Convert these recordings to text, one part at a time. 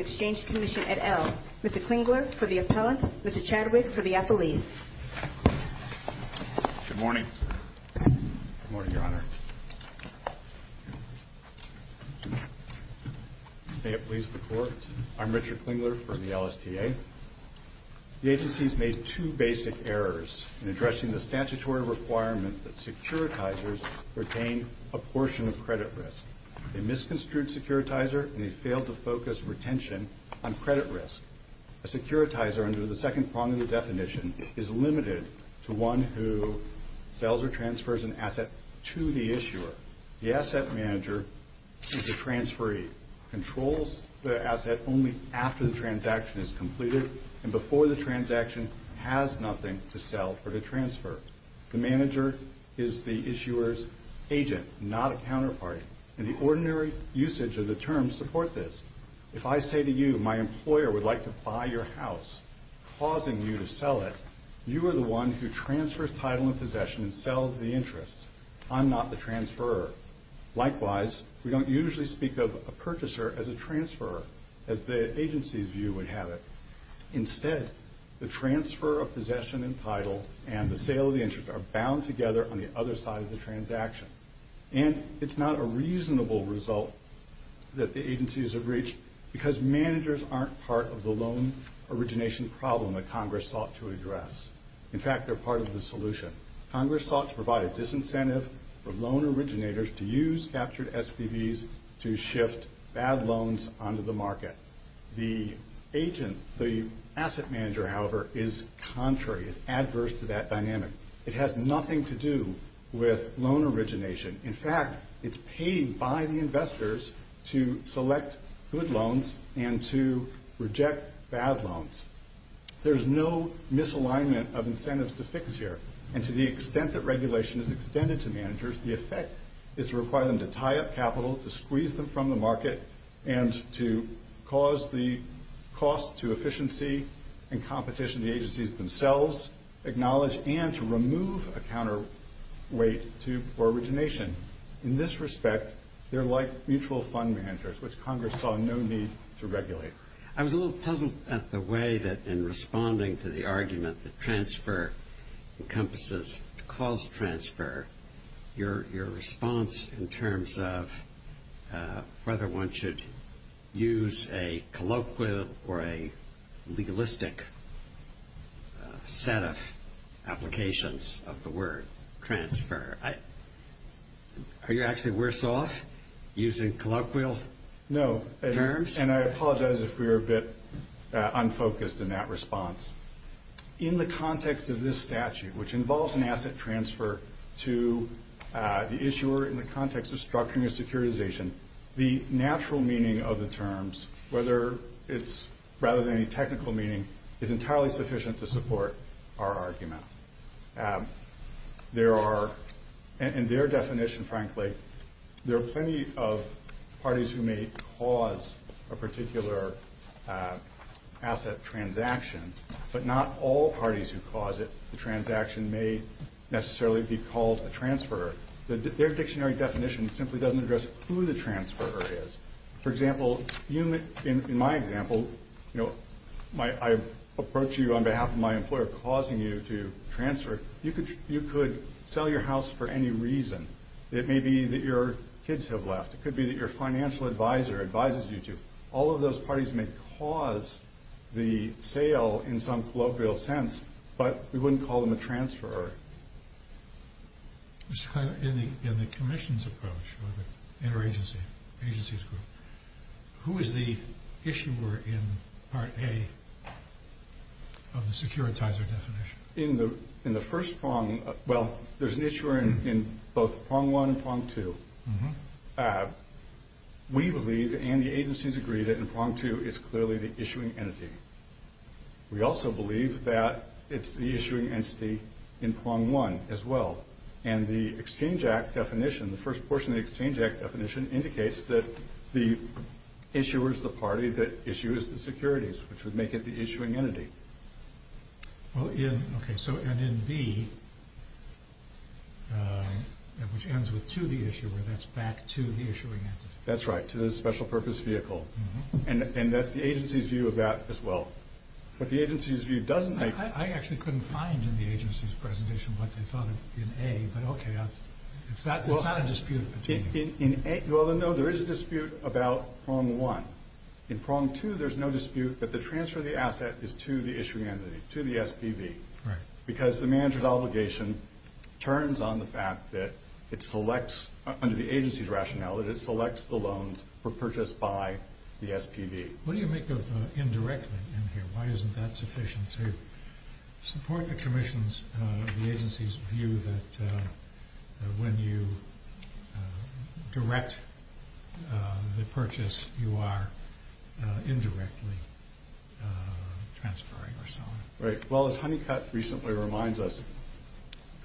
Exchange Commission, et al. Mr. Klingler for the appellant, Mr. Chadwick for the affilies. Good morning. Good morning, Your Honor. May it please the Court, I'm Richard Klingler for the LSTA. The agency has made two basic errors in addressing the statute of limitations that securitizers retain a portion of credit risk. They misconstrued securitizer and they failed to focus retention on credit risk. A securitizer, under the second prong of the definition, is limited to one who sells or transfers an asset to the issuer. The asset manager is the transferee, controls the asset only after the transaction is completed and before the transaction has nothing to sell or to transfer. The manager is the issuer's agent, not a counterparty, and the ordinary usage of the terms support this. If I say to you, my employer would like to buy your house, causing you to sell it, you are the one who transfers title and possession and sells the interest. I'm not the transferor. Likewise, we don't usually speak of a purchaser as a transferor, as the agency's view would have it. Instead, the transfer of possession and title and the sale of the interest are bound together on the other side of the transaction. And it's not a reasonable result that the agencies have reached because managers aren't part of the loan origination problem that Congress sought to address. In fact, they're part of the solution. Congress sought to provide a disincentive for loan originators to use captured SPVs to shift bad loans onto the market. The agent, the asset manager, however, is contrary, is adverse to that dynamic. It has nothing to do with loan origination. In fact, it's paid by the investors to select good loans and to reject bad loans. There's no misalignment of incentives to fix here. And to the extent that regulation is extended to managers, the effect is to require them to tie up capital, to squeeze them from the market, and to cause the cost to efficiency and competition to the agencies themselves, acknowledge and to remove a counterweight to loan origination. In this respect, they're like mutual fund managers, which Congress saw no need to regulate. I was a little puzzled at the way that in responding to the argument that transfer encompasses causal transfer, your response in terms of whether one should use a colloquial or a legalistic set of applications of the word transfer. Are you actually worse off using colloquial terms? And I apologize if we were a bit unfocused in that response. In the context of this statute, which involves an asset transfer to the issuer in the context of structuring a securitization, the natural meaning of the terms, rather than any technical meaning, is entirely sufficient to support our argument. In their definition, frankly, there are plenty of parties who may cause a particular asset transaction, but not all parties who cause it. The transaction may necessarily be called a transfer. Their dictionary definition simply doesn't address who the transfer is. For example, in my example, I approach you on behalf of my employer causing you to transfer. You could sell your house for any reason. It may be that your kids have left. It could be that your financial advisor advises you to. All of those parties may cause the sale in some colloquial sense, but we wouldn't call them a transfer. In the commission's approach, or the interagency agency's group, who is the issuer in part A of the securitizer definition? In the first prong, well, there's an issuer in both prong one and prong two. We believe, and the agencies agree, that in prong two it's clearly the issuing entity. We also believe that it's the issuing entity in prong one as well. And the Exchange Act definition, the first portion of the Exchange Act definition, indicates that the issuer is the party that issues the securities, which would make it the issuing entity. Okay, so and in B, which ends with to the issuer, that's back to the issuing entity. That's right, to the special purpose vehicle. And that's the agency's view of that as well. But the agency's view doesn't make I actually couldn't find in the agency's presentation what they thought of in A, but okay. It's not a dispute. Well, no, there is a dispute about prong one. In prong two, there's no dispute that the transfer of the asset is to the issuing entity, to the SPV. Right. Because the manager's obligation turns on the fact that it selects, under the agency's rationale, that it selects the loans purchased by the SPV. What do you make of indirectly in here? Why isn't that sufficient to support the agency's view that when you direct the purchase, you are indirectly transferring or so on? Right. Well, as Honeycutt recently reminds us,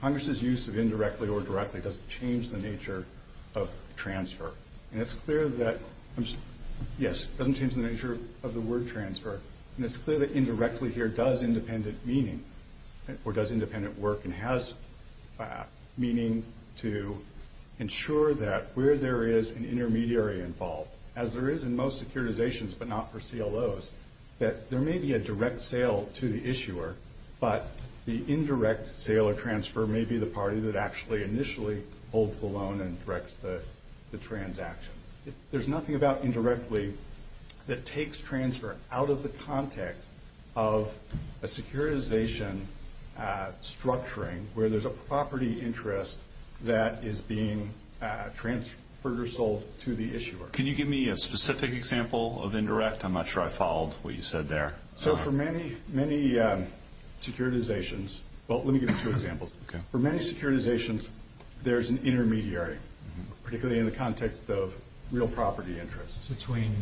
Congress's use of indirectly or directly doesn't change the nature of transfer. And it's clear that, yes, it doesn't change the nature of the word transfer. And it's clear that indirectly here does independent meaning or does independent work and has meaning to ensure that where there is an intermediary involved, as there is in most securitizations but not for CLOs, that there may be a direct sale to the issuer, but the indirect sale or transfer may be the party that actually initially holds the loan and directs the transaction. There's nothing about indirectly that takes transfer out of the context of a securitization structuring where there's a property interest that is being transferred or sold to the issuer. Can you give me a specific example of indirect? I'm not sure I followed what you said there. So for many securitizations, well, let me give you two examples. For many securitizations, there's an intermediary, particularly in the context of real property interest. Between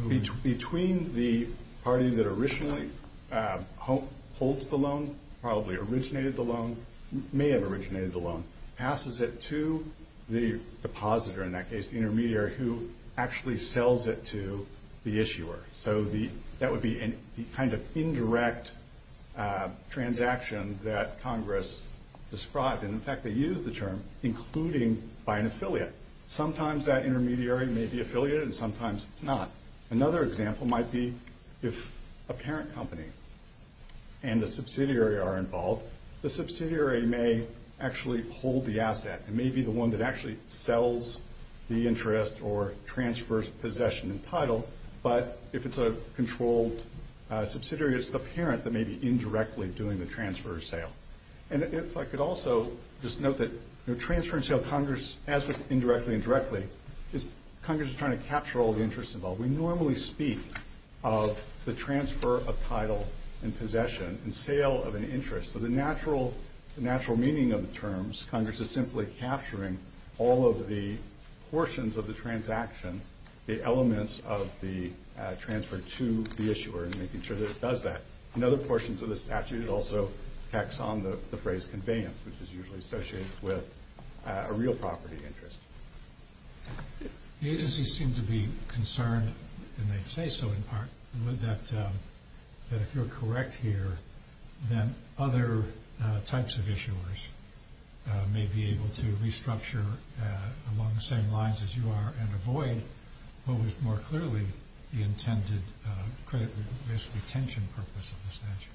who? Between the party that originally holds the loan, probably originated the loan, may have originated the loan, passes it to the depositor, in that case the intermediary, who actually sells it to the issuer. So that would be the kind of indirect transaction that Congress described. And, in fact, they use the term including by an affiliate. Sometimes that intermediary may be affiliate and sometimes it's not. Another example might be if a parent company and a subsidiary are involved, the subsidiary may actually hold the asset and may be the one that actually sells the interest or transfers possession and title. But if it's a controlled subsidiary, it's the parent that may be indirectly doing the transfer or sale. And if I could also just note that transfer and sale, Congress, as with indirectly and directly, is Congress is trying to capture all the interest involved. We normally speak of the transfer of title and possession and sale of an interest. So the natural meaning of the terms, Congress is simply capturing all of the portions of the transaction, the elements of the transfer to the issuer and making sure that it does that. Another portion to the statute also attacks on the phrase conveyance, which is usually associated with a real property interest. The agencies seem to be concerned, and they say so in part, that if you're correct here, then other types of issuers may be able to restructure along the same lines as you are and avoid what was more clearly the intended credit risk retention purpose of the statute.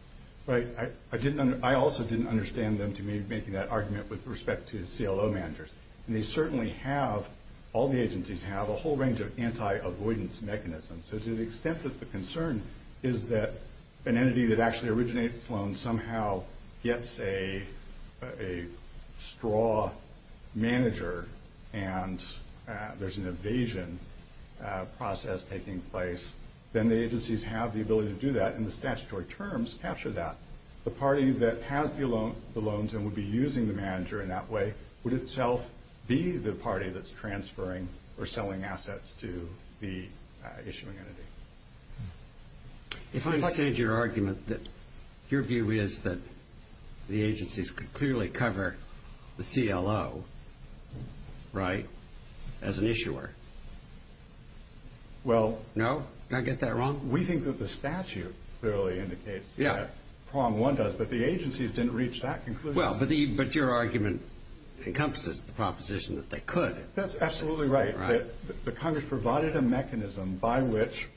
Right. I also didn't understand them to me making that argument with respect to CLO managers. And they certainly have, all the agencies have, a whole range of anti-avoidance mechanisms. So to the extent that the concern is that an entity that actually originates loans somehow gets a straw manager, and there's an evasion process taking place, then the agencies have the ability to do that, and the statutory terms capture that. The party that has the loans and would be using the manager in that way would itself be the party that's transferring or selling assets to the issuing entity. If I understand your argument, your view is that the agencies could clearly cover the CLO, right, as an issuer. Well. No? Did I get that wrong? We think that the statute clearly indicates that. Yeah. But the agencies didn't reach that conclusion. Well, but your argument encompasses the proposition that they could. That's absolutely right. The Congress provided a mechanism by which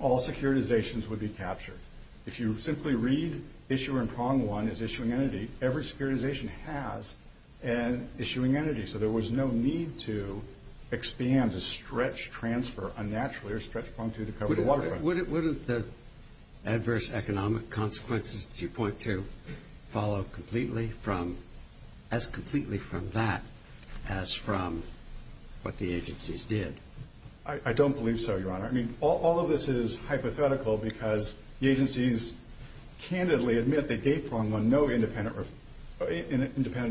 all securitizations would be captured. If you simply read issue in prong one is issuing entity, every securitization has an issuing entity. So there was no need to expand a stretch transfer unnaturally or stretch prong two to cover the waterfront. Would the adverse economic consequences of 2.2 follow completely from as completely from that as from what the agencies did? I don't believe so, Your Honor. I mean, all of this is hypothetical because the agencies candidly admit they gave prong one no independent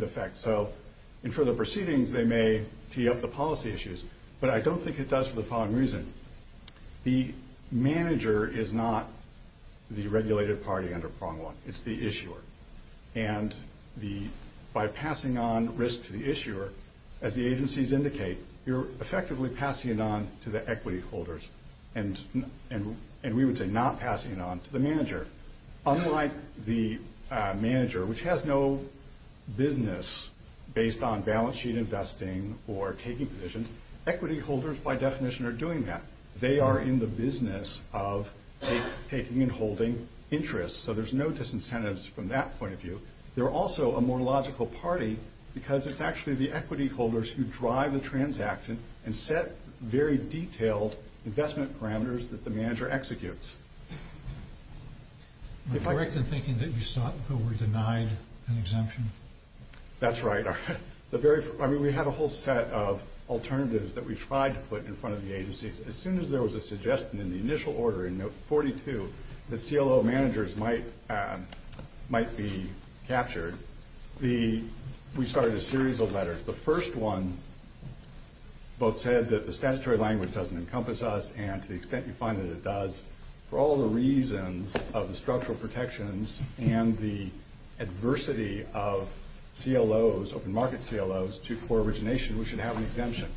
effect. So in further proceedings, they may tee up the policy issues. But I don't think it does for the following reason. The manager is not the regulated party under prong one. It's the issuer. And by passing on risk to the issuer, as the agencies indicate, you're effectively passing it on to the equity holders, and we would say not passing it on to the manager. Unlike the manager, which has no business based on balance sheet investing or taking positions, equity holders, by definition, are doing that. They are in the business of taking and holding interest. So there's no disincentives from that point of view. They're also a more logical party because it's actually the equity holders who drive the transaction and set very detailed investment parameters that the manager executes. Am I correct in thinking that you sought but were denied an exemption? That's right. We had a whole set of alternatives that we tried to put in front of the agencies. As soon as there was a suggestion in the initial order in note 42 that CLO managers might be captured, we started a series of letters. The first one both said that the statutory language doesn't encompass us, and to the extent you find that it does, for all the reasons of the structural protections and the adversity of CLOs, open market CLOs, to core origination, we should have an exemption.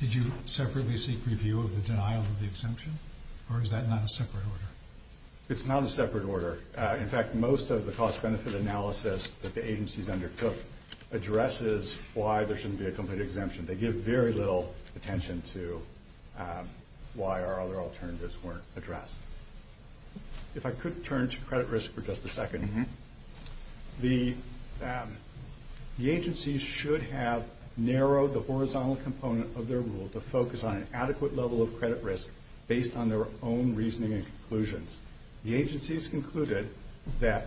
Did you separately seek review of the denial of the exemption, or is that not a separate order? It's not a separate order. In fact, most of the cost-benefit analysis that the agencies undertook addresses why there shouldn't be a complete exemption. They give very little attention to why our other alternatives weren't addressed. If I could turn to credit risk for just a second. The agencies should have narrowed the horizontal component of their rule to focus on an adequate level of credit risk based on their own reasoning and conclusions. The agencies concluded that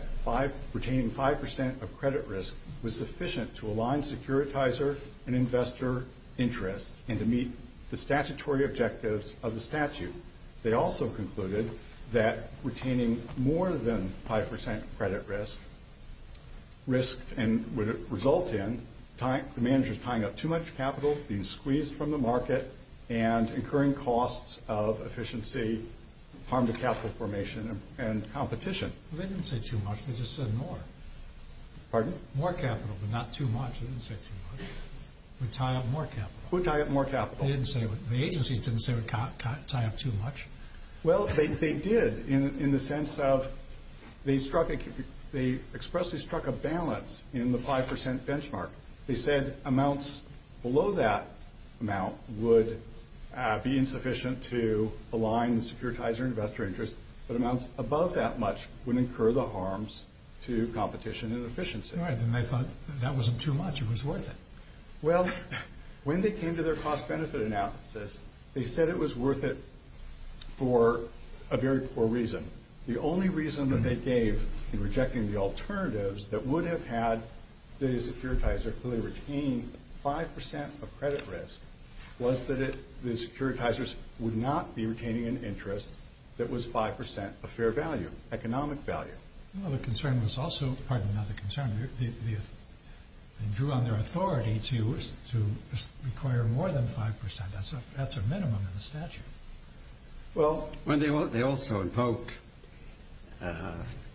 retaining 5% of credit risk was sufficient to align securitizer and investor interests and to meet the statutory objectives of the statute. They also concluded that retaining more than 5% credit risk would result in the managers tying up too much capital, being squeezed from the market, and incurring costs of efficiency, harm to capital formation, and competition. They didn't say too much. They just said more. Pardon? More capital, but not too much. They didn't say too much. They would tie up more capital. They would tie up more capital. The agencies didn't say it would tie up too much. Well, they did in the sense of they expressly struck a balance in the 5% benchmark. They said amounts below that amount would be insufficient to align the securitizer and investor interest, but amounts above that much would incur the harms to competition and efficiency. Right, and they thought that wasn't too much. It was worth it. Well, when they came to their cost-benefit analysis, they said it was worth it for a very poor reason. The only reason that they gave in rejecting the alternatives that would have had the securitizer clearly retain 5% of credit risk was that the securitizers would not be retaining an interest that was 5% of fair value, economic value. Well, the concern was also, pardon not the concern, they drew on their authority to require more than 5%. That's a minimum in the statute. Well, they also invoked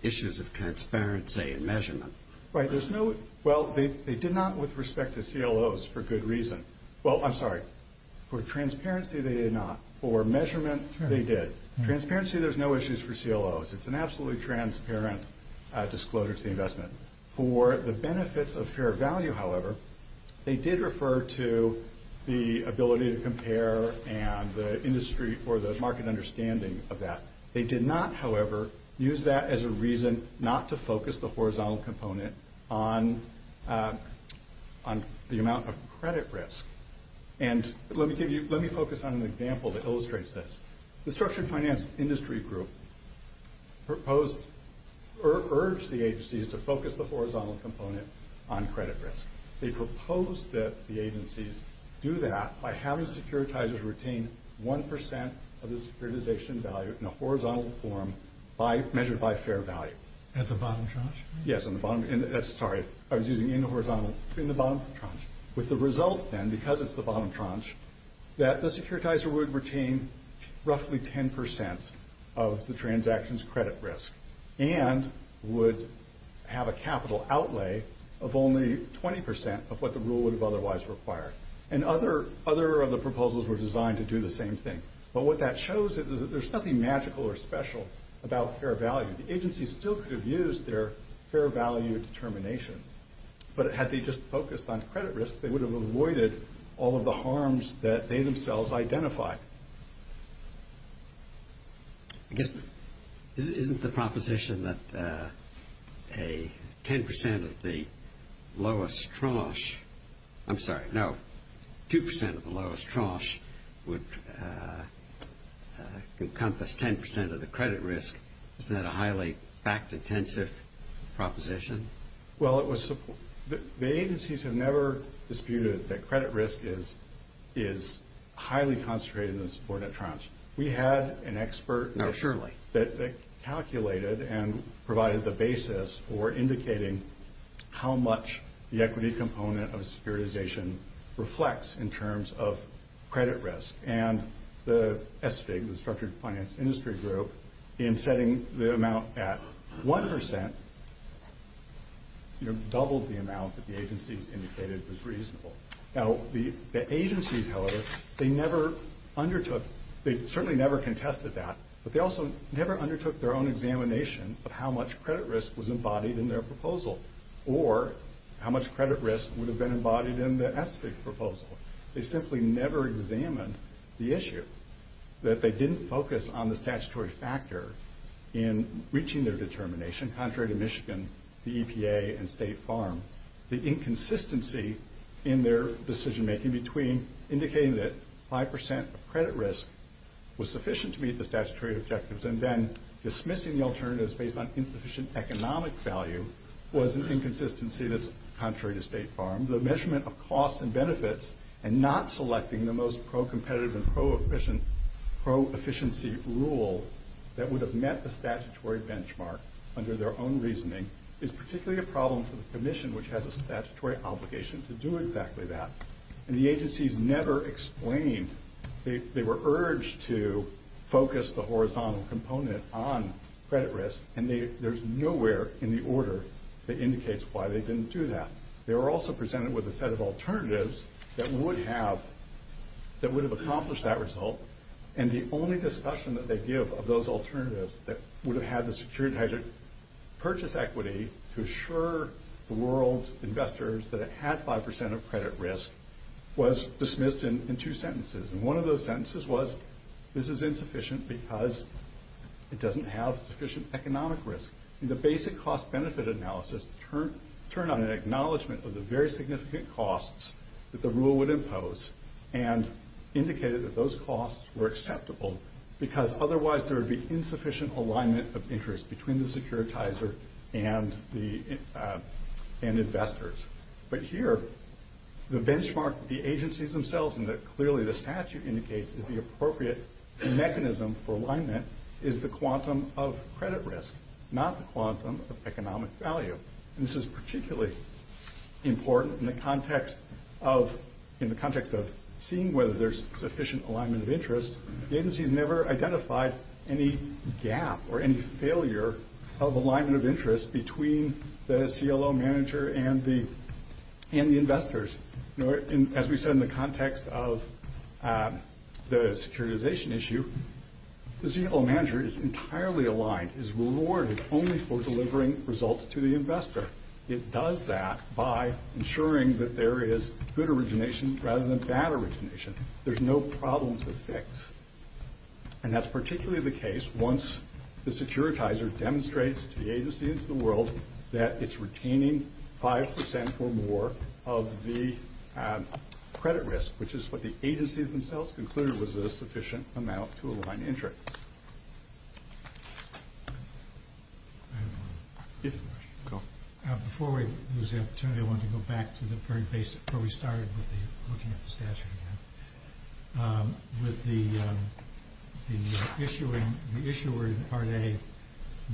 issues of transparency and measurement. Right, there's no, well, they did not with respect to CLOs for good reason. Well, I'm sorry. For transparency, they did not. For measurement, they did. Transparency, there's no issues for CLOs. It's an absolutely transparent disclosure to the investment. For the benefits of fair value, however, they did refer to the ability to compare and the industry or the market understanding of that. They did not, however, use that as a reason not to focus the horizontal component on the amount of credit risk. And let me focus on an example that illustrates this. The Structured Finance Industry Group urged the agencies to focus the horizontal component on credit risk. They proposed that the agencies do that by having securitizers retain 1% of the securitization value in a horizontal form measured by fair value. At the bottom tranche? Yes, sorry, I was using in the bottom tranche. With the result, then, because it's the bottom tranche, that the securitizer would retain roughly 10% of the transaction's credit risk and would have a capital outlay of only 20% of what the rule would have otherwise required. And other of the proposals were designed to do the same thing. But what that shows is that there's nothing magical or special about fair value. The agencies still could have used their fair value determination, but had they just focused on credit risk, they would have avoided all of the harms that they themselves identified. I guess, isn't the proposition that a 10% of the lowest tranche, I'm sorry, no, 2% of the lowest tranche would encompass 10% of the credit risk, isn't that a highly fact-intensive proposition? Well, the agencies have never disputed that credit risk is highly concentrated in the subordinate tranche. We had an expert that calculated and provided the basis for indicating how much the equity component of securitization reflects in terms of credit risk. And the SFIG, the Structured Finance Industry Group, in setting the amount at 1%, doubled the amount that the agencies indicated was reasonable. Now, the agencies, however, they never undertook, they certainly never contested that, but they also never undertook their own examination of how much credit risk was embodied in their proposal, or how much credit risk would have been embodied in the SFIG proposal. They simply never examined the issue, that they didn't focus on the statutory factor in reaching their determination, contrary to Michigan, the EPA, and State Farm. The inconsistency in their decision-making between indicating that 5% of credit risk was sufficient to meet the statutory objectives and then dismissing the alternatives based on insufficient economic value was an inconsistency that's contrary to State Farm. The measurement of costs and benefits and not selecting the most pro-competitive and pro-efficiency rule that would have met the statutory benchmark under their own reasoning is particularly a problem for the Commission, which has a statutory obligation to do exactly that. And the agencies never explained, they were urged to focus the horizontal component on credit risk, and there's nowhere in the order that indicates why they didn't do that. They were also presented with a set of alternatives that would have accomplished that result, and the only discussion that they give of those alternatives that would have had the security to purchase equity to assure the world's investors that it had 5% of credit risk was dismissed in two sentences. And one of those sentences was, this is insufficient because it doesn't have sufficient economic risk. The basic cost-benefit analysis turned on an acknowledgment of the very significant costs that the rule would impose and indicated that those costs were acceptable because otherwise there would be insufficient alignment of interest between the securitizer and investors. But here, the benchmark that the agencies themselves and that clearly the statute indicates is the appropriate mechanism for alignment is the quantum of credit risk, not the quantum of economic value. And this is particularly important in the context of seeing whether there's sufficient alignment of interest. The agencies never identified any gap or any failure of alignment of interest between the CLO manager and the investors. As we said in the context of the securitization issue, the CLO manager is entirely aligned, is rewarded only for delivering results to the investor. It does that by ensuring that there is good origination rather than bad origination. There's no problem to fix. And that's particularly the case once the securitizer demonstrates to the agency and to the world that it's retaining 5% or more of the credit risk, which is what the agencies themselves concluded was a sufficient amount to align interest. Before we lose the opportunity, I want to go back to where we started with looking at the statute again. With the issuer in Part A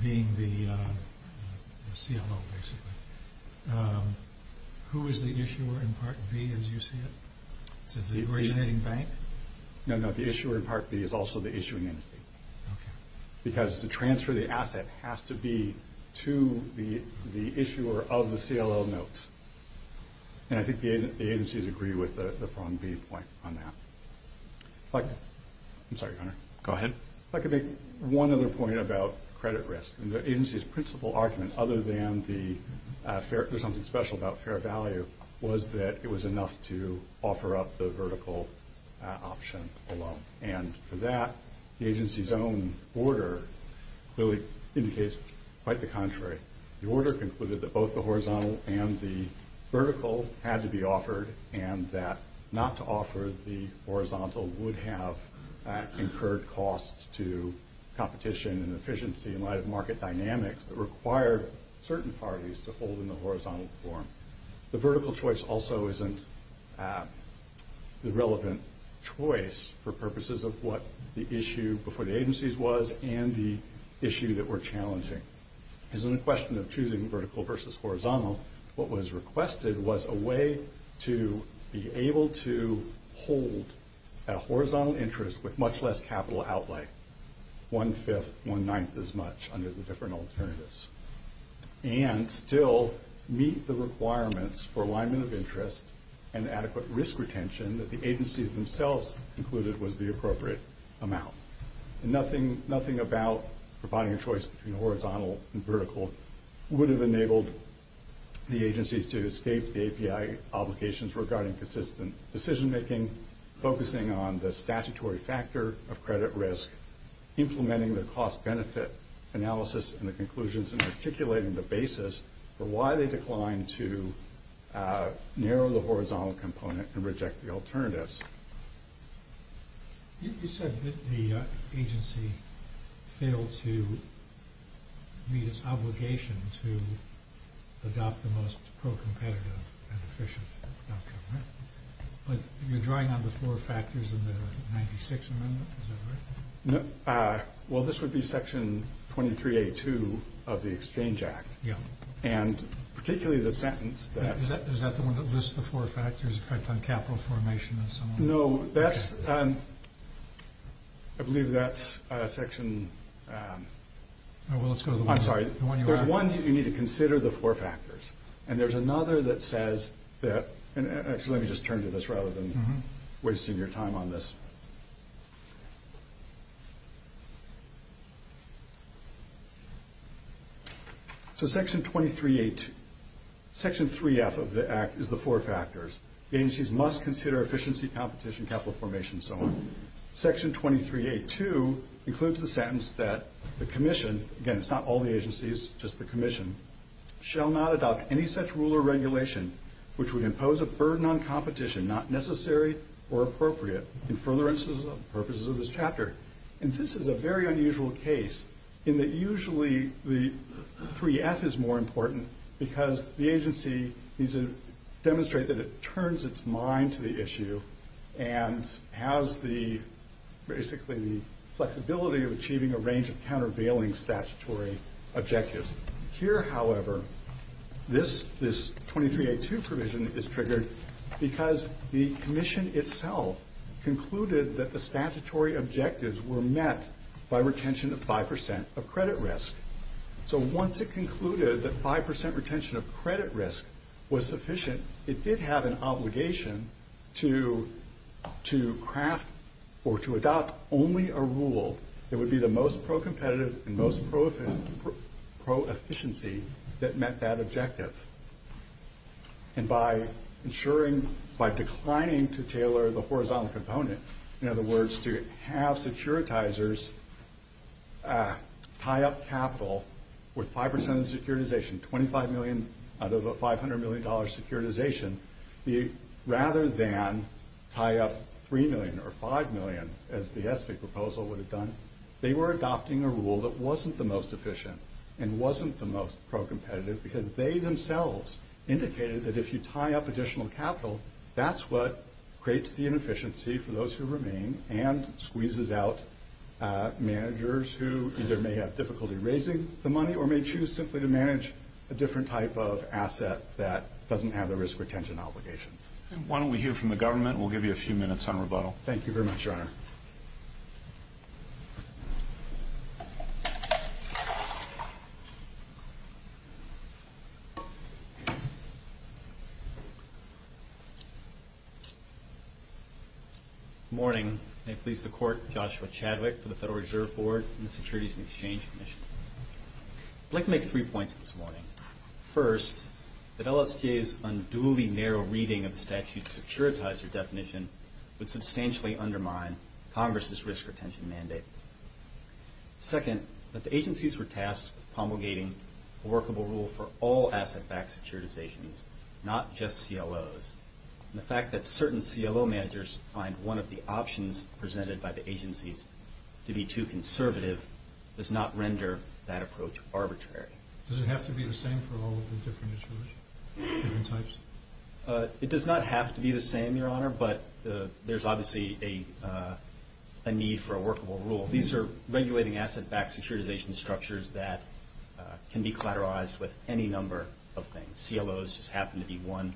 being the CLO, basically, who is the issuer in Part B as you see it? The originating bank? No, no, the issuer in Part B is also the issuing entity. Because the transfer of the asset has to be to the issuer of the CLO notes. And I think the agencies agree with the point on that. I'm sorry, Hunter. Go ahead. If I could make one other point about credit risk. The agency's principal argument, other than there's something special about fair value, was that it was enough to offer up the vertical option alone. And for that, the agency's own order really indicates quite the contrary. The order concluded that both the horizontal and the vertical had to be offered and that not to offer the horizontal would have incurred costs to competition and efficiency in light of market dynamics that required certain parties to hold in the horizontal form. The vertical choice also isn't the relevant choice for purposes of what the issue before the agencies was and the issue that we're challenging. Because in the question of choosing vertical versus horizontal, what was requested was a way to be able to hold a horizontal interest with much less capital outlay, one-fifth, one-ninth as much under the different alternatives, and still meet the requirements for alignment of interest and adequate risk retention that the agencies themselves concluded was the appropriate amount. Nothing about providing a choice between horizontal and vertical would have enabled the agencies to escape the API obligations regarding consistent decision-making, focusing on the statutory factor of credit risk, implementing the cost-benefit analysis and the conclusions and articulating the basis for why they declined to narrow the horizontal component and reject the alternatives. You said that the agency failed to meet its obligation to adopt the most pro-competitive and efficient document. But you're drawing on the four factors in the 96th Amendment, is that right? Well, this would be Section 23A2 of the Exchange Act, and particularly the sentence that... Is that the one that lists the four factors, the effect on capital formation and so on? No, that's... I believe that's Section... Well, let's go to the one... I'm sorry. There's one that you need to consider the four factors, and there's another that says that... Actually, let me just turn to this rather than wasting your time on this. So Section 23A2... Section 3F of the Act is the four factors. The agencies must consider efficiency, competition, capital formation, and so on. Section 23A2 includes the sentence that the Commission... Again, it's not all the agencies, just the Commission... shall not adopt any such rule or regulation which would impose a burden on competition not necessary or appropriate in furtherance of the purposes of this chapter. And this is a very unusual case in that usually the 3F is more important because the agency needs to demonstrate that it turns its mind to the issue and has the... basically the flexibility of achieving a range of countervailing statutory objectives. Here, however, this 23A2 provision is triggered because the Commission itself concluded that the statutory objectives were met by retention of 5% of credit risk. So once it concluded that 5% retention of credit risk was sufficient, it did have an obligation to craft or to adopt only a rule that would be the most pro-competitive and most pro-efficiency that met that objective. And by ensuring... by declining to tailor the horizontal component, in other words, to have securitizers tie up capital with 5% of the securitization, $25 million out of a $500 million securitization, rather than tie up $3 million or $5 million as the ESPY proposal would have done, they were adopting a rule that wasn't the most efficient and wasn't the most pro-competitive because they themselves indicated that if you tie up additional capital, that's what creates the inefficiency for those who remain and squeezes out managers who either may have difficulty raising the money or may choose simply to manage a different type of asset that doesn't have the risk retention obligations. Why don't we hear from the government? We'll give you a few minutes on rebuttal. Thank you very much, Your Honor. Good morning. May it please the Court, Joshua Chadwick for the Federal Reserve Board and the Securities and Exchange Commission. I'd like to make three points this morning. First, that LSTA's unduly narrow reading of the statute's securitizer definition would substantially undermine Congress's risk retention mandate. Second, that the agencies were tasked with promulgating a workable rule for all asset-backed securitizations, not just CLOs. And the fact that certain CLO managers find one of the options presented by the agencies to be too conservative does not render that approach arbitrary. Does it have to be the same for all of the different insurance types? It does not have to be the same, Your Honor, but there's obviously a need for a workable rule. These are regulating asset-backed securitization structures that can be collateralized with any number of things. CLOs just happen to be one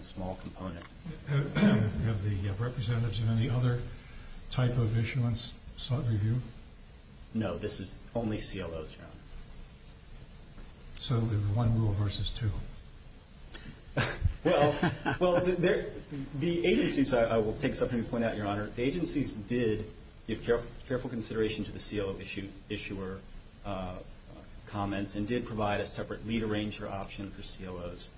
small component. Do you have representatives of any other type of issuance sought review? No, this is only CLOs, Your Honor. So there's one rule versus two. Well, the agencies, I will take a second to point out, Your Honor, the agencies did give careful consideration to the CLO issuer comments and did provide a separate lead arranger option for CLOs.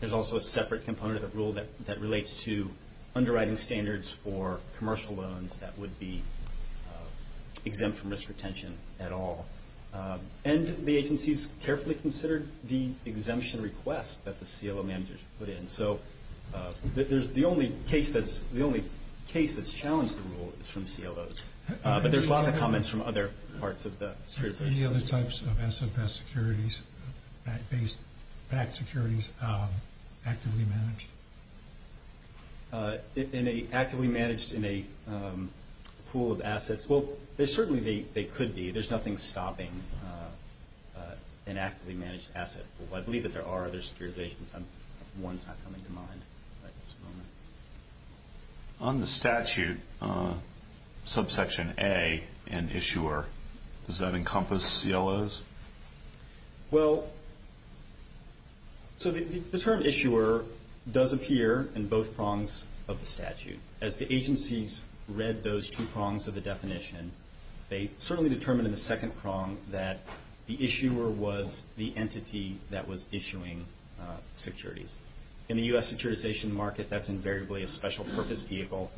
There's also a separate component of the rule that relates to underwriting standards for commercial loans that would be exempt from risk retention at all. And the agencies carefully considered the exemption request that the CLO managers put in. So the only case that's challenged the rule is from CLOs. But there's lots of comments from other parts of the jurisdiction. Any other types of SFS securities, backed securities, actively managed? Actively managed in a pool of assets. Well, certainly they could be. There's nothing stopping an actively managed asset pool. I believe that there are other securitizations. One's not coming to mind at this moment. On the statute, subsection A and issuer, does that encompass CLOs? Well, so the term issuer does appear in both prongs of the statute. As the agencies read those two prongs of the definition, they certainly determined in the second prong that the issuer was the entity that was issuing securities. In the U.S. securitization market, that's invariably a special purpose vehicle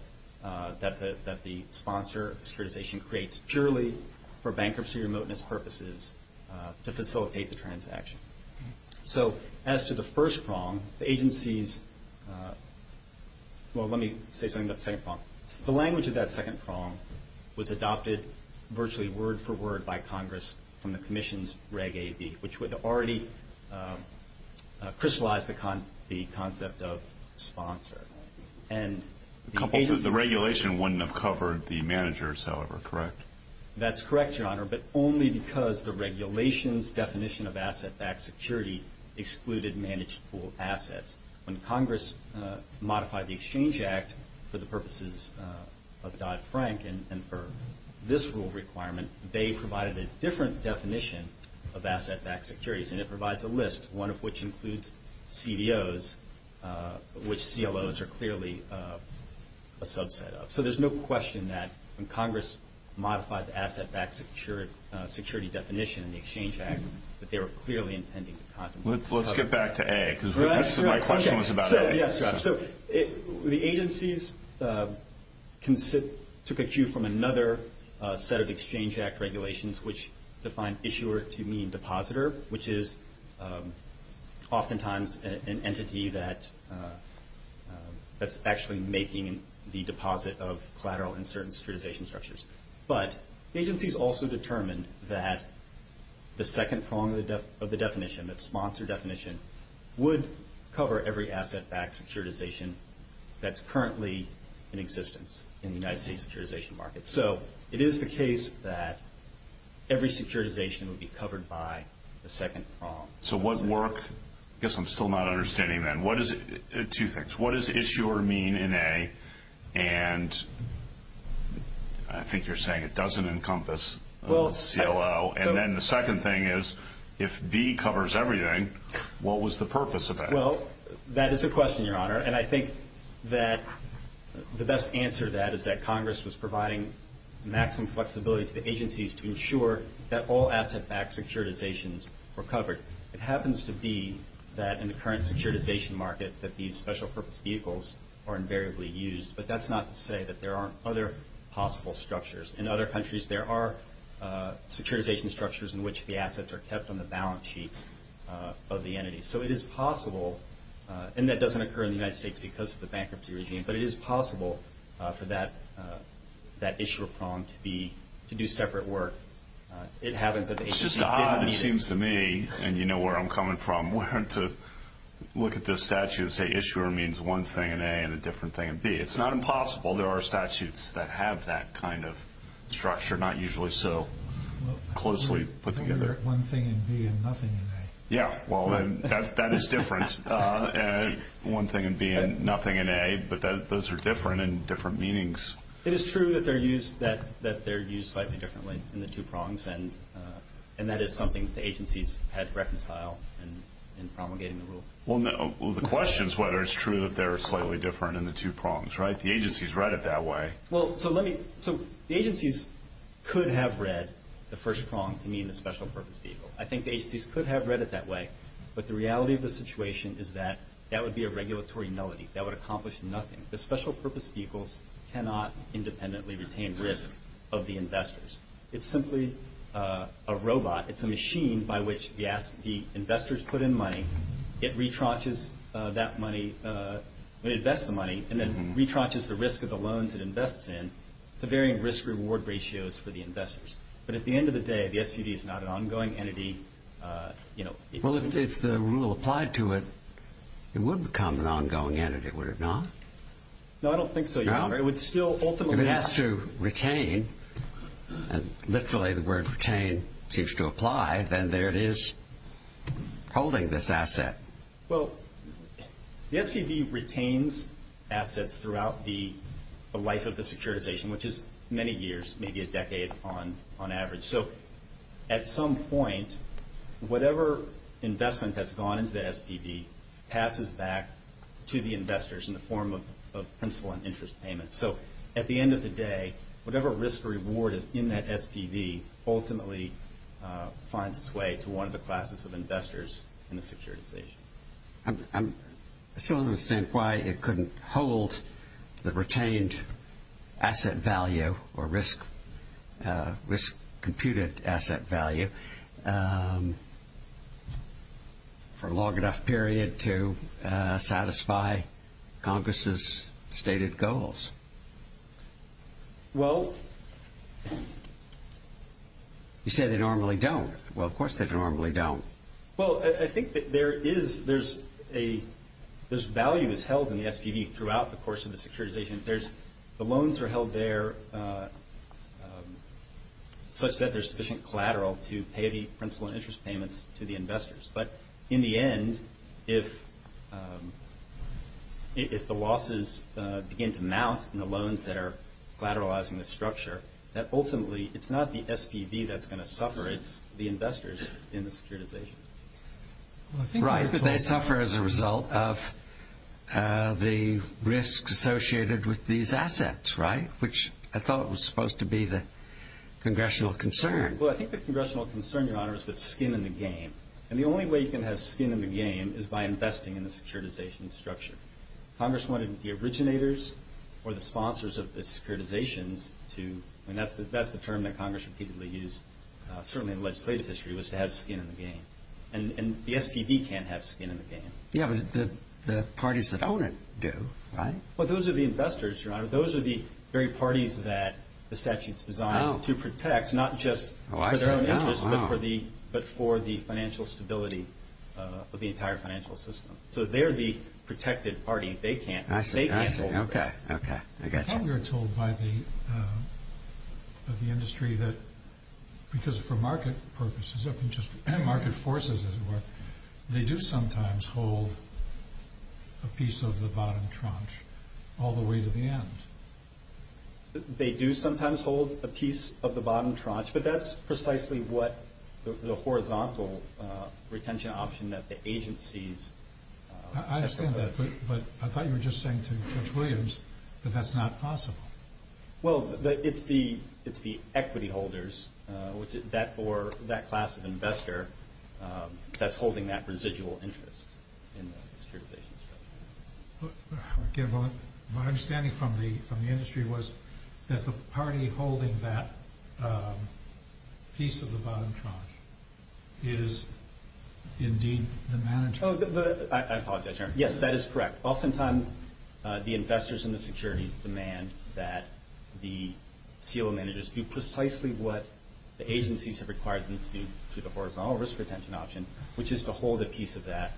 that the sponsor of securitization creates purely for bankruptcy remoteness purposes to facilitate the transaction. So as to the first prong, the agencies – well, let me say something about the second prong. The language of that second prong was adopted virtually word-for-word by Congress from the Commission's Reg AB, which would already crystallize the concept of sponsor. The regulation wouldn't have covered the managers, however, correct? That's correct, Your Honor, but only because the regulation's definition of asset-backed security excluded managed pool assets. When Congress modified the Exchange Act for the purposes of Dodd-Frank and for this rule requirement, they provided a different definition of asset-backed securities, and it provides a list, one of which includes CDOs, which CLOs are clearly a subset of. So there's no question that when Congress modified the asset-backed security definition in the Exchange Act that they were clearly intending to contemplate. Let's get back to A because my question was about A. Yes, Your Honor. So the agencies took a cue from another set of Exchange Act regulations which defined issuer to mean depositor, which is oftentimes an entity that's actually making the deposit of collateral in certain securitization structures. But agencies also determined that the second prong of the definition, that sponsor definition, would cover every asset-backed securitization that's currently in existence in the United States securitization market. So it is the case that every securitization would be covered by the second prong. So what work? I guess I'm still not understanding that. Two things. What does issuer mean in A? And I think you're saying it doesn't encompass CLO. And then the second thing is if B covers everything, what was the purpose of that? Well, that is a question, Your Honor, and I think that the best answer to that is that Congress was providing maximum flexibility to the agencies to ensure that all asset-backed securitizations were covered. It happens to be that in the current securitization market that these special purpose vehicles are invariably used. But that's not to say that there aren't other possible structures. In other countries there are securitization structures in which the assets are kept on the balance sheets of the entities. So it is possible, and that doesn't occur in the United States because of the bankruptcy regime, but it is possible for that issuer prong to do separate work. It happens that the agencies didn't need it. It's just odd, it seems to me, and you know where I'm coming from, where to look at this statute and say issuer means one thing in A and a different thing in B. It's not impossible. There are statutes that have that kind of structure, not usually so closely put together. One thing in B and nothing in A. Yeah, well, that is different. One thing in B and nothing in A, but those are different in different meanings. It is true that they're used slightly differently in the two prongs, and that is something that the agencies had to reconcile in promulgating the rule. Well, the question is whether it's true that they're slightly different in the two prongs, right? The agencies read it that way. So the agencies could have read the first prong to mean the special purpose vehicle. I think the agencies could have read it that way, but the reality of the situation is that that would be a regulatory nullity. That would accomplish nothing. The special purpose vehicles cannot independently retain risk of the investors. It's simply a robot. It's a machine by which the investors put in money. It retranches that money when it invests the money, and then retranches the risk of the loans it invests in to varying risk-reward ratios for the investors. But at the end of the day, the SQD is not an ongoing entity. Well, if the rule applied to it, it would become an ongoing entity, would it not? No, I don't think so, Your Honor. It would still ultimately be. If it has to retain, and literally the word retain seems to apply, then there it is holding this asset. Well, the SPV retains assets throughout the life of the securitization, which is many years, maybe a decade on average. So at some point, whatever investment that's gone into the SPV passes back to the investors in the form of principal and interest payments. So at the end of the day, whatever risk or reward is in that SPV ultimately finds its way to one of the classes of investors in the securitization. I still don't understand why it couldn't hold the retained asset value or risk-computed asset value for a long enough period to satisfy Congress's stated goals. Well. You said they normally don't. Well, of course they normally don't. Well, I think that there's value that's held in the SPV throughout the course of the securitization. The loans are held there such that they're sufficient collateral to pay the principal and interest payments to the investors. But in the end, if the losses begin to mount in the loans that are collateralizing the structure, that ultimately it's not the SPV that's going to suffer, it's the investors in the securitization. Right, but they suffer as a result of the risk associated with these assets, right, which I thought was supposed to be the congressional concern. Well, I think the congressional concern, Your Honor, is with skin in the game. And the only way you can have skin in the game is by investing in the securitization structure. Congress wanted the originators or the sponsors of the securitizations to – I mean, that's the term that Congress repeatedly used, certainly in legislative history, was to have skin in the game. And the SPV can't have skin in the game. Yeah, but the parties that own it do, right? Well, those are the investors, Your Honor. Those are the very parties that the statute's designed to protect, not just for their own interests but for the financial stability of the entire financial system. So they're the protected party. They can't hold this. Okay, okay, I got you. I thought you were told by the industry that because for market purposes, just market forces as it were, they do sometimes hold a piece of the bottom tranche all the way to the end. They do sometimes hold a piece of the bottom tranche, but that's precisely what the horizontal retention option that the agencies – I understand that, but I thought you were just saying to Judge Williams that that's not possible. Well, it's the equity holders or that class of investor that's holding that residual interest in the securitization structure. My understanding from the industry was that the party holding that piece of the bottom tranche is indeed the manager. I apologize, Your Honor. Yes, that is correct. Oftentimes the investors and the securities demand that the CO managers do precisely what the agencies have required them to do to the horizontal risk retention option, which is to hold a piece of that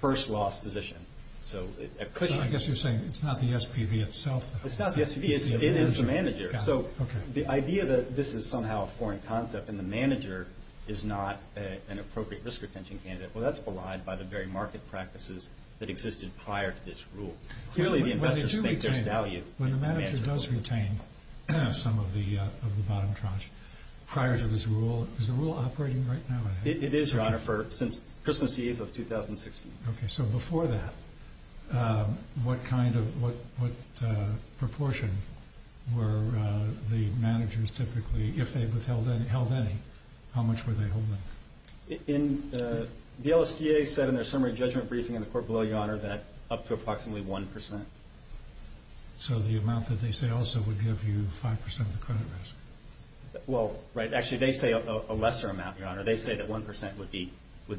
first loss position. So I guess you're saying it's not the SPV itself. It's not the SPV. It is the manager. Okay. The idea that this is somehow a foreign concept and the manager is not an appropriate risk retention candidate, well, that's belied by the very market practices that existed prior to this rule. Clearly the investors think there's value in the manager. When the manager does retain some of the bottom tranche prior to this rule, is the rule operating right now? It is, Your Honor, since Christmas Eve of 2016. Okay. So before that, what proportion were the managers typically, if they withheld any, how much were they holding? The LSTA said in their summary judgment briefing in the court below, Your Honor, that up to approximately 1%. So the amount that they say also would give you 5% of the credit risk? Well, right. Actually, they say a lesser amount, Your Honor. They say that 1% would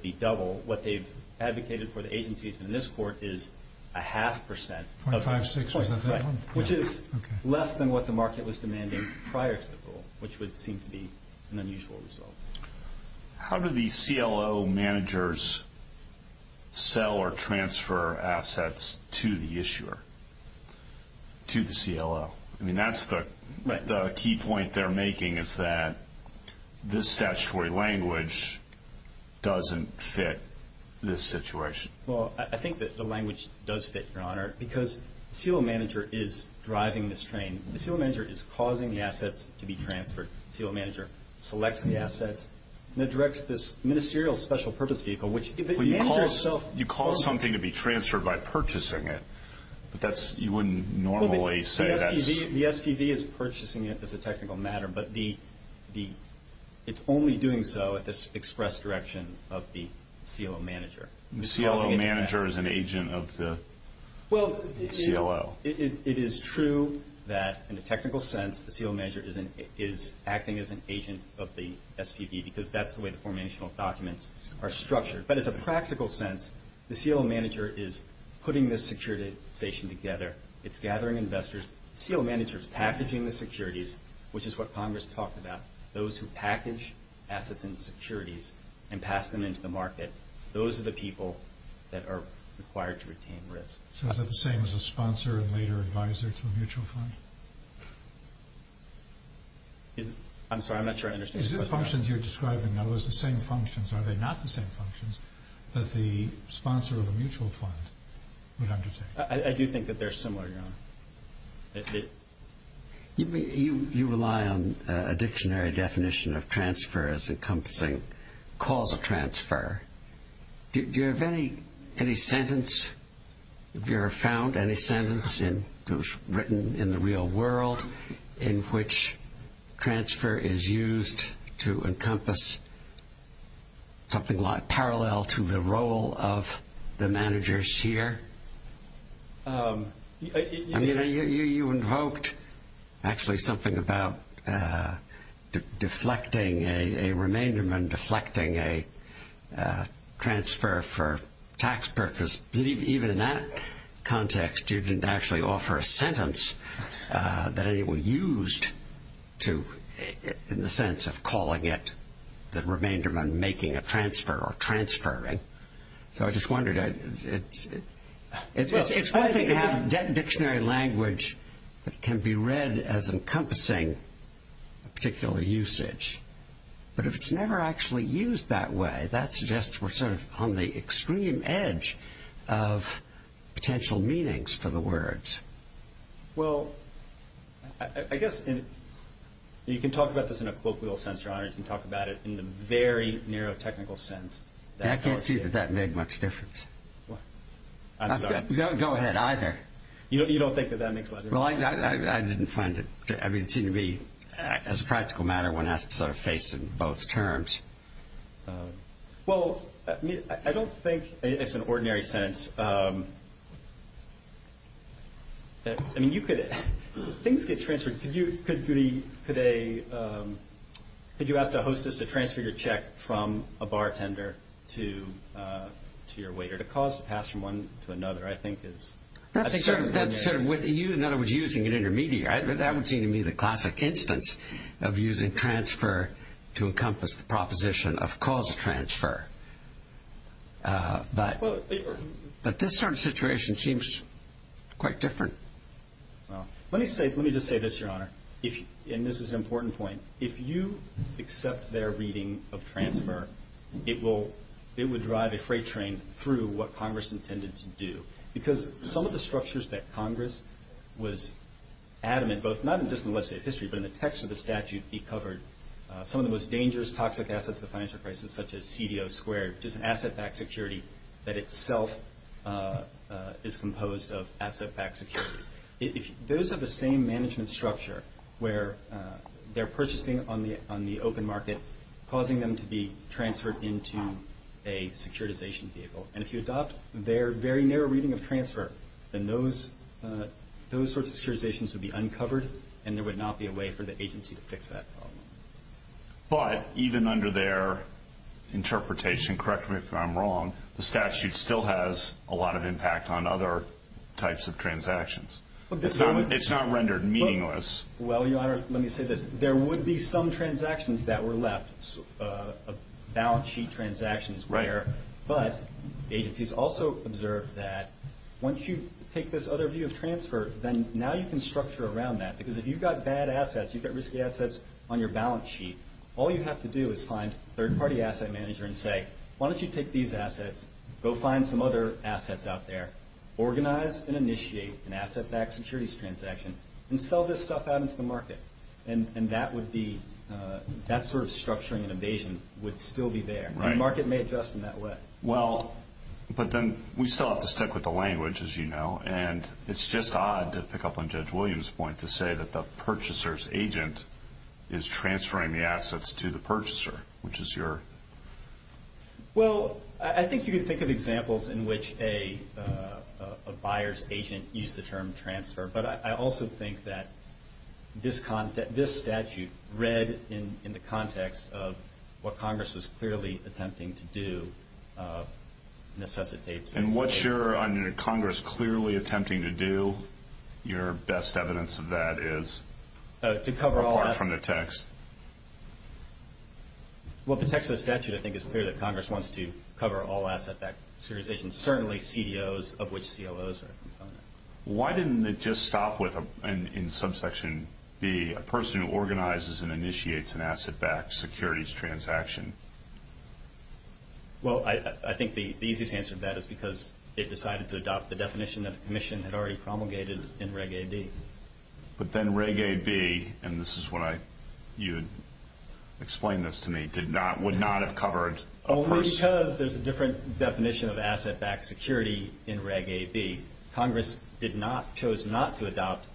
be double. What they've advocated for the agencies in this court is a half percent. 0.56%? Right. Which is less than what the market was demanding prior to the rule, which would seem to be an unusual result. How do the CLO managers sell or transfer assets to the issuer, to the CLO? I mean, that's the key point they're making is that this statutory language doesn't fit this situation. Well, I think that the language does fit, Your Honor, because the CLO manager is driving this train. The CLO manager is causing the assets to be transferred. The CLO manager selects the assets and then directs this ministerial special purpose vehicle, which if the manager itself You call something to be transferred by purchasing it, but you wouldn't normally say that's The SPV is purchasing it as a technical matter, but it's only doing so at this express direction of the CLO manager. The CLO manager is an agent of the CLO. Well, it is true that in a technical sense, the CLO manager is acting as an agent of the SPV because that's the way the formational documents are structured. But as a practical sense, the CLO manager is putting this securitization together. It's gathering investors. The CLO manager is packaging the securities, which is what Congress talked about, those who package assets and securities and pass them into the market. Those are the people that are required to retain risk. So is that the same as a sponsor and later advisor to a mutual fund? I'm sorry, I'm not sure I understand. Is it the functions you're describing, in other words, the same functions? Are they not the same functions that the sponsor of a mutual fund would undertake? I do think that they're similar, Your Honor. You rely on a dictionary definition of transfer as encompassing causal transfer. Do you have any sentence, if you have found any sentence written in the real world in which transfer is used to encompass something like parallel to the role of the managers here? I mean, you invoked actually something about deflecting a remainderment, deflecting a transfer for tax purposes. Even in that context, you didn't actually offer a sentence that anyone used in the sense of calling it the remainderment making a transfer or transferring. So I just wondered. It's one thing to have dictionary language that can be read as encompassing a particular usage, but if it's never actually used that way, that suggests we're sort of on the extreme edge of potential meanings for the words. Well, I guess you can talk about this in a colloquial sense, Your Honor. You can talk about it in the very neurotechnical sense. I can't see that that made much difference. I'm sorry. Go ahead, either. You don't think that that makes a lot of difference? Well, I didn't find it. I mean, it seemed to me, as a practical matter, one has to sort of face it in both terms. Well, I don't think it's an ordinary sentence. I mean, things get transferred. Could you ask a hostess to transfer your check from a bartender to your waiter to cause the pass from one to another? I think that's a binary sentence. In other words, using an intermediary. That would seem to me the classic instance of using transfer to encompass the proposition of cause of transfer. But this sort of situation seems quite different. Let me just say this, Your Honor, and this is an important point. If you accept their reading of transfer, it would drive a freight train through what Congress intended to do because some of the structures that Congress was adamant both not just in the legislative history, but in the text of the statute, it covered some of the most dangerous toxic assets of the financial crisis, such as CDO squared, which is an asset-backed security that itself is composed of asset-backed securities. Those are the same management structure where they're purchasing on the open market, causing them to be transferred into a securitization vehicle. And if you adopt their very narrow reading of transfer, then those sorts of securitizations would be uncovered, and there would not be a way for the agency to fix that problem. But even under their interpretation, correct me if I'm wrong, the statute still has a lot of impact on other types of transactions. It's not rendered meaningless. Well, Your Honor, let me say this. There would be some transactions that were left, balance sheet transactions were, but agencies also observed that once you take this other view of transfer, then now you can structure around that because if you've got bad assets, you've got risky assets on your balance sheet, all you have to do is find a third-party asset manager and say, why don't you take these assets, go find some other assets out there, organize and initiate an asset-backed securities transaction, and sell this stuff out into the market. And that sort of structuring and evasion would still be there, and the market may adjust in that way. But then we still have to stick with the language, as you know, and it's just odd to pick up on Judge Williams' point to say that the purchaser's agent is transferring the assets to the purchaser, which is your... Well, I think you could think of examples in which a buyer's agent used the term transfer, but I also think that this statute read in the context of what Congress was clearly attempting to do necessitates... And what you're, under Congress, clearly attempting to do, your best evidence of that is? To cover all... Apart from the text. Well, the text of the statute, I think, is clear that Congress wants to cover all asset-backed securities transactions, Why didn't it just stop with, in subsection B, a person who organizes and initiates an asset-backed securities transaction? Well, I think the easiest answer to that is because it decided to adopt the definition that the Commission had already promulgated in Reg AB. But then Reg AB, and this is what I... You explained this to me, would not have covered a person... Because there's a different definition of asset-backed security in Reg AB, Congress chose not to adopt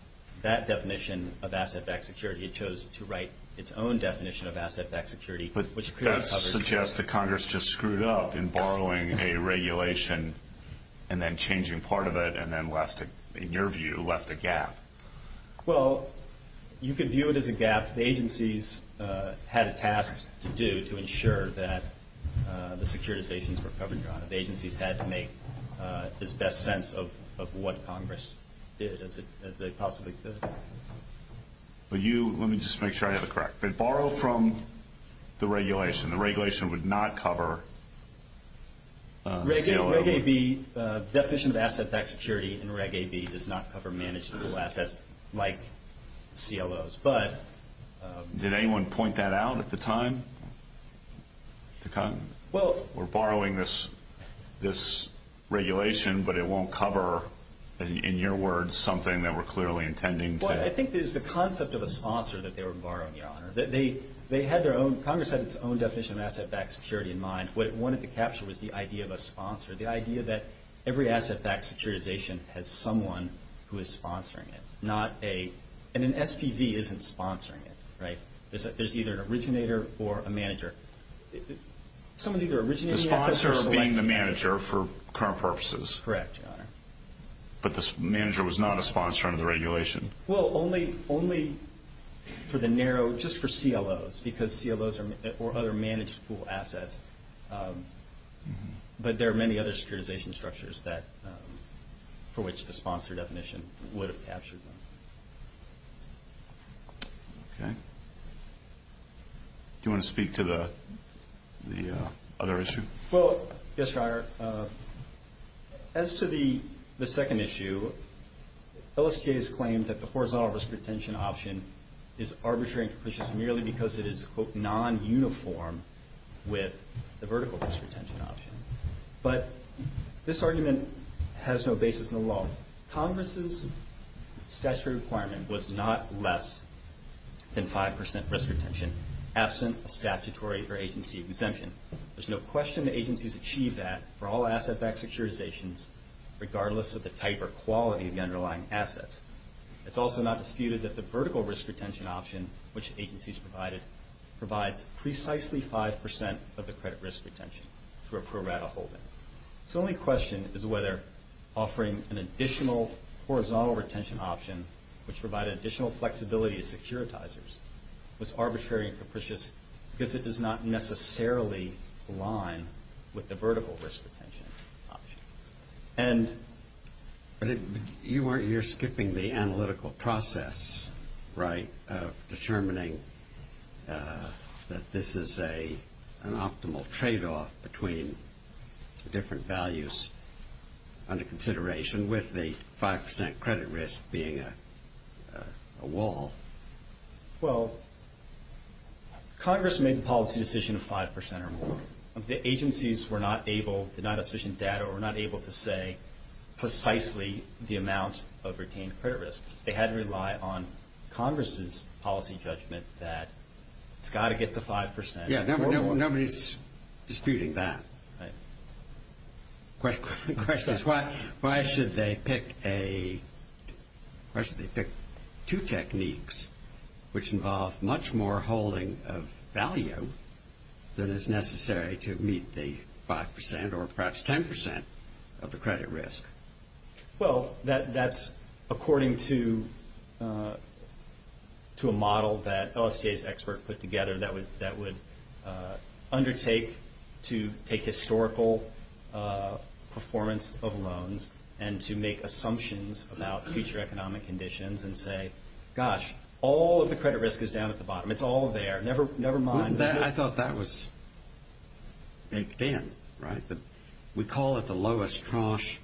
that definition of asset-backed security. It chose to write its own definition of asset-backed security, which clearly covers... But that suggests that Congress just screwed up in borrowing a regulation and then changing part of it, and then, in your view, left a gap. Well, you could view it as a gap. The agencies had a task to do to ensure that the securitizations were covered, John. The agencies had to make this best sense of what Congress did, as they possibly could. But you... Let me just make sure I have it correct. They borrowed from the regulation. The regulation would not cover... Reg AB, the definition of asset-backed security in Reg AB does not cover managed legal assets like CLOs, but... Did anyone point that out at the time? Well... We're borrowing this regulation, but it won't cover, in your words, something that we're clearly intending to... Well, I think it's the concept of a sponsor that they were borrowing, your Honor. They had their own... Congress had its own definition of asset-backed security in mind. What it wanted to capture was the idea of a sponsor, the idea that every asset-backed securitization has someone who is sponsoring it, not a... And an SPV isn't sponsoring it, right? There's either an originator or a manager. Someone's either originating assets or collecting assets. The sponsor's being the manager for current purposes. Correct, your Honor. But the manager was not a sponsor under the regulation. Well, only for the narrow... just for CLOs, because CLOs are other managed legal assets. But there are many other securitization structures for which the sponsor definition would have captured them. Okay. Do you want to speak to the other issue? Well, yes, your Honor. As to the second issue, LSTA has claimed that the horizontal risk retention option is arbitrary and capricious merely because it is, quote, non-uniform with the vertical risk retention option. But this argument has no basis in the law. Congress's statutory requirement was not less than 5% risk retention, absent a statutory or agency exemption. There's no question that agencies achieve that for all asset-backed securitizations, regardless of the type or quality of the underlying assets. It's also not disputed that the vertical risk retention option, which agencies provided, provides precisely 5% of the credit risk retention for a pro rata holding. So the only question is whether offering an additional horizontal retention option, which provided additional flexibility to securitizers, was arbitrary and capricious because it does not necessarily align with the vertical risk retention option. But you're skipping the analytical process, right, of determining that this is an optimal tradeoff between the different values under consideration, with the 5% credit risk being a wall. Well, Congress made the policy decision of 5% or more. The agencies were not able, did not have sufficient data, or were not able to say precisely the amount of retained credit risk. They had to rely on Congress's policy judgment that it's got to get to 5%. Yeah, nobody's disputing that. The question is why should they pick two techniques which involve much more holding of value than is necessary to meet the 5% or perhaps 10% of the credit risk? Well, that's according to a model that LSTA's expert put together that would undertake to take historical performance of loans and to make assumptions about future economic conditions and say, gosh, all of the credit risk is down at the bottom. It's all there. Never mind. I thought that was baked in, right? We call it the lowest tranche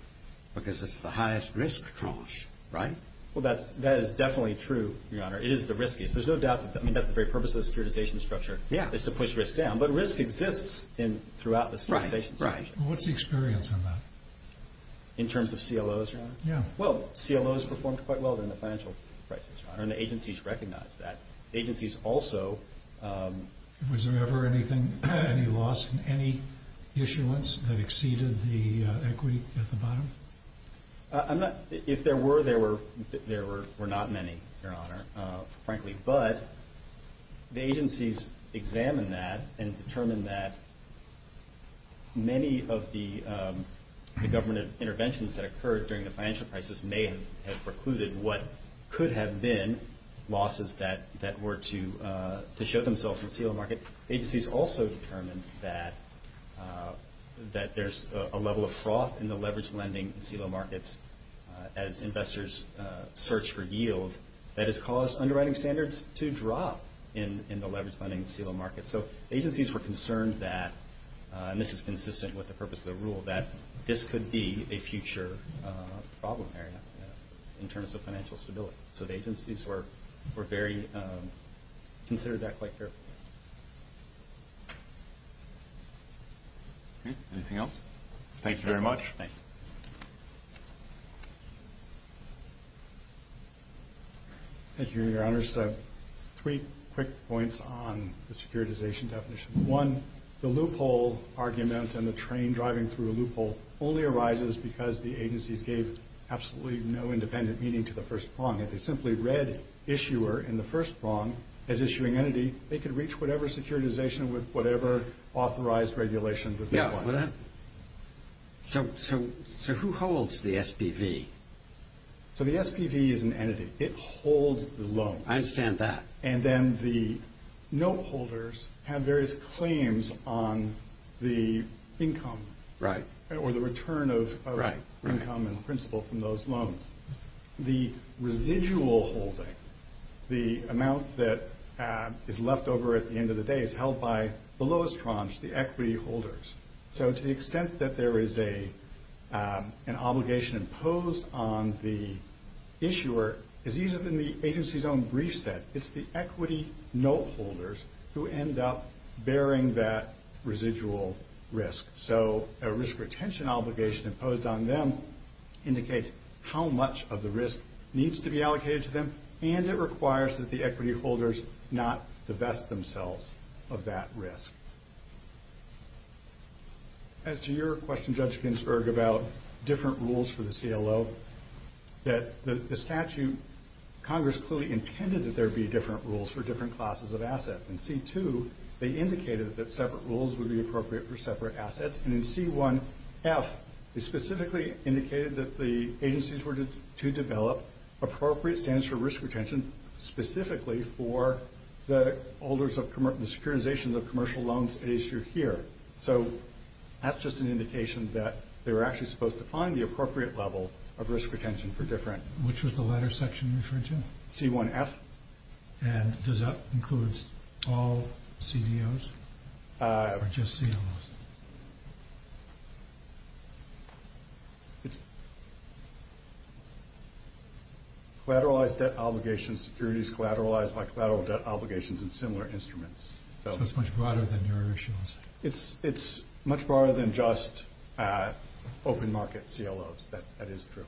because it's the highest risk tranche, right? Well, that is definitely true, Your Honor. It is the riskiest. I mean, that's the very purpose of the securitization structure is to push risk down. But risk exists throughout the securitization structure. Right. What's the experience on that? In terms of CLOs, Your Honor? Yeah. Well, CLOs performed quite well during the financial crisis, Your Honor, and the agencies recognized that. The agencies also— Was there ever any loss in any issuance that exceeded the equity at the bottom? If there were, there were not many, Your Honor. Frankly. But the agencies examined that and determined that many of the government interventions that occurred during the financial crisis may have precluded what could have been losses that were to show themselves in CLO market. Agencies also determined that there's a level of froth in the leveraged lending CLO markets as investors search for yield that has caused underwriting standards to drop in the leveraged lending CLO markets. So agencies were concerned that—and this is consistent with the purpose of the rule— that this could be a future problem area in terms of financial stability. So the agencies were very—considered that quite careful. Okay. Anything else? Thank you very much. Thank you. Thank you, Your Honors. Three quick points on the securitization definition. One, the loophole argument and the train driving through a loophole only arises because the agencies gave absolutely no independent meaning to the first prong. If they simply read issuer in the first prong as issuing entity, they could reach whatever securitization with whatever authorized regulations that they want. Yeah. So who holds the SPV? So the SPV is an entity. It holds the loan. I understand that. And then the note holders have various claims on the income or the return of income and principal from those loans. The residual holding, the amount that is left over at the end of the day, is held by the lowest prongs, the equity holders. So to the extent that there is an obligation imposed on the issuer, as even in the agency's own brief set, it's the equity note holders who end up bearing that residual risk. So a risk retention obligation imposed on them indicates how much of the risk needs to be allocated to them, and it requires that the equity holders not divest themselves of that risk. As to your question, Judge Ginsburg, about different rules for the CLO, that the statute, Congress clearly intended that there be different rules for different classes of assets. In C2, they indicated that separate rules would be appropriate for separate assets. And in C1F, they specifically indicated that the agencies were to develop appropriate standards for risk retention specifically for the securitization of commercial loans issued here. So that's just an indication that they were actually supposed to find the appropriate level of risk retention for different. Which was the latter section you referred to? C1F. And does that include all CDOs or just CLOs? It's collateralized debt obligations, securities collateralized by collateral debt obligations, and similar instruments. So it's much broader than your issuance. It's much broader than just open market CLOs. That is true.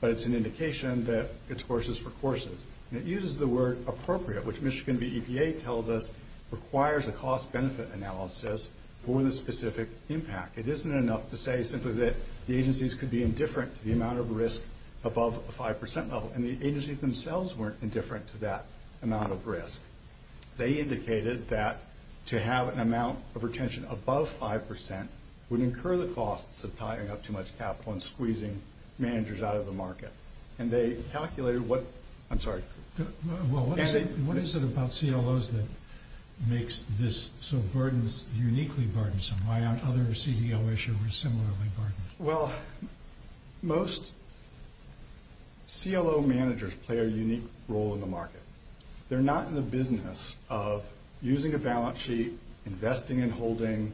But it's an indication that it's horses for courses. And it uses the word appropriate, which Michigan BEPA tells us requires a cost-benefit analysis for the specific impact. It isn't enough to say simply that the agencies could be indifferent to the amount of risk above a 5% level. And the agencies themselves weren't indifferent to that amount of risk. They indicated that to have an amount of retention above 5% would incur the costs of tying up too much capital and squeezing managers out of the market. And they calculated what – I'm sorry. What is it about CLOs that makes this so burdensome, uniquely burdensome? Why aren't other CDO issuers similarly burdened? Well, most CLO managers play a unique role in the market. They're not in the business of using a balance sheet, investing in holding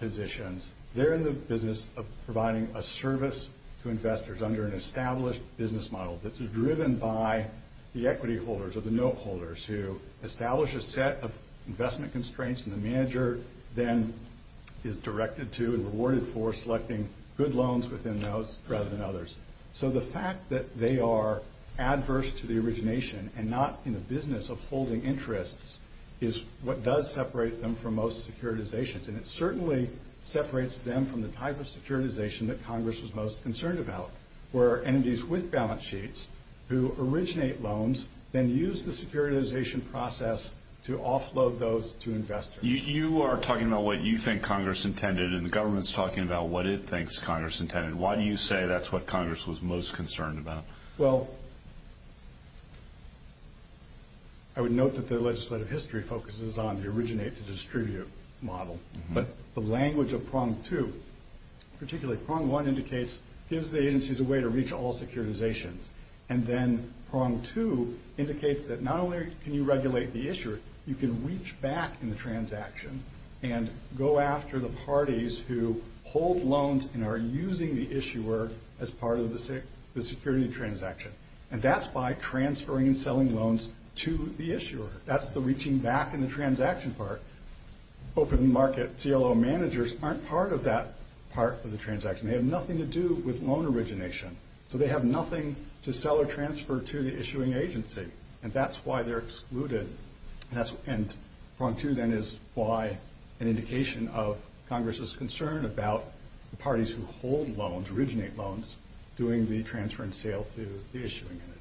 positions. They're in the business of providing a service to investors under an established business model that's driven by the equity holders or the note holders who establish a set of investment constraints, and the manager then is directed to and rewarded for selecting good loans within those rather than others. So the fact that they are adverse to the origination and not in the business of holding interests is what does separate them from most securitizations. And it certainly separates them from the type of securitization that Congress was most concerned about, where entities with balance sheets who originate loans then use the securitization process to offload those to investors. You are talking about what you think Congress intended, and the government's talking about what it thinks Congress intended. Why do you say that's what Congress was most concerned about? Well, I would note that their legislative history focuses on the originate-to-distribute model. But the language of prong two, particularly prong one, indicates gives the agencies a way to reach all securitizations. And then prong two indicates that not only can you regulate the issuer, you can reach back in the transaction and go after the parties who hold loans and are using the issuer as part of the security transaction. And that's by transferring and selling loans to the issuer. That's the reaching back in the transaction part. Open market CLO managers aren't part of that part of the transaction. They have nothing to do with loan origination. So they have nothing to sell or transfer to the issuing agency. And that's why they're excluded. And prong two then is why an indication of Congress's concern about the parties who hold loans, originate loans, doing the transfer and sale to the issuing entity.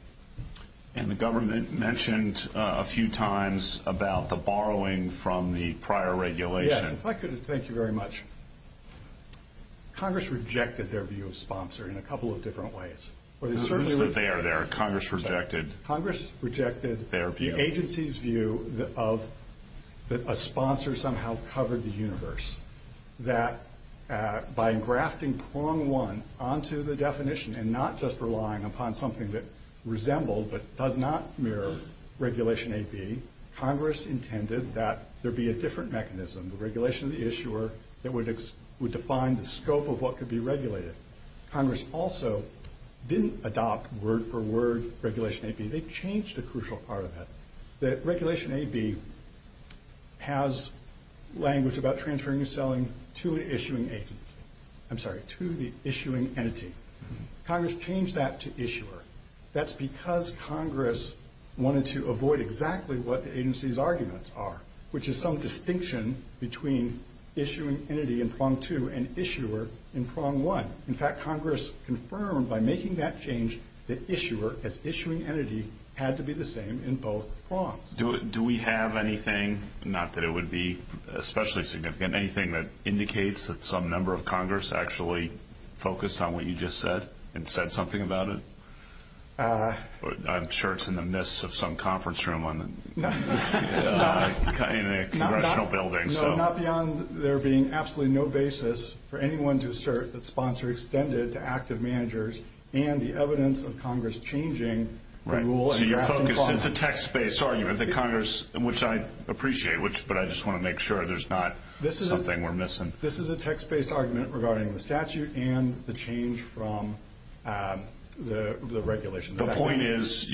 And the government mentioned a few times about the borrowing from the prior regulation. Yes, if I could, thank you very much. Congress rejected their view of sponsor in a couple of different ways. They are there. Congress rejected their view. Congress rejected the agency's view that a sponsor somehow covered the universe, that by grafting prong one onto the definition and not just relying upon something that resembled but does not mirror Regulation AB, Congress intended that there be a different mechanism, the regulation of the issuer that would define the scope of what could be regulated. Congress also didn't adopt word-for-word Regulation AB. They changed a crucial part of that. That Regulation AB has language about transferring or selling to an issuing agency. I'm sorry, to the issuing entity. Congress changed that to issuer. That's because Congress wanted to avoid exactly what the agency's arguments are, which is some distinction between issuing entity in prong two and issuer in prong one. In fact, Congress confirmed by making that change that issuer as issuing entity had to be the same in both prongs. Do we have anything, not that it would be especially significant, anything that indicates that some member of Congress actually focused on what you just said and said something about it? I'm sure it's in the midst of some conference room in a congressional building. No, not beyond there being absolutely no basis for anyone to assert that sponsor extended to active managers and the evidence of Congress changing the rule. It's a text-based argument that Congress, which I appreciate, but I just want to make sure there's not something we're missing. This is a text-based argument regarding the statute and the change from the regulation. Your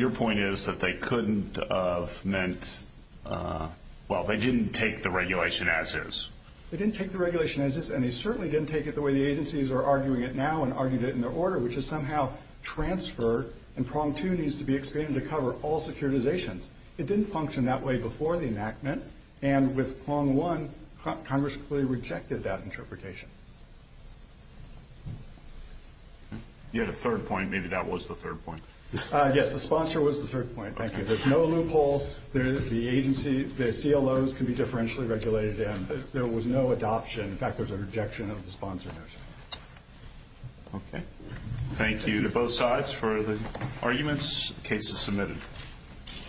point is that they couldn't have meant, well, they didn't take the regulation as is. They didn't take the regulation as is, and they certainly didn't take it the way the agencies are arguing it now and argued it in their order, which is somehow transferred, and prong two needs to be expanded to cover all securitizations. It didn't function that way before the enactment, and with prong one Congress completely rejected that interpretation. You had a third point. Maybe that was the third point. Yes, the sponsor was the third point. Thank you. There's no loophole. The CLOs can be differentially regulated in. There was no adoption. In fact, there was a rejection of the sponsor notion. Okay. Thank you to both sides for the arguments. The case is submitted.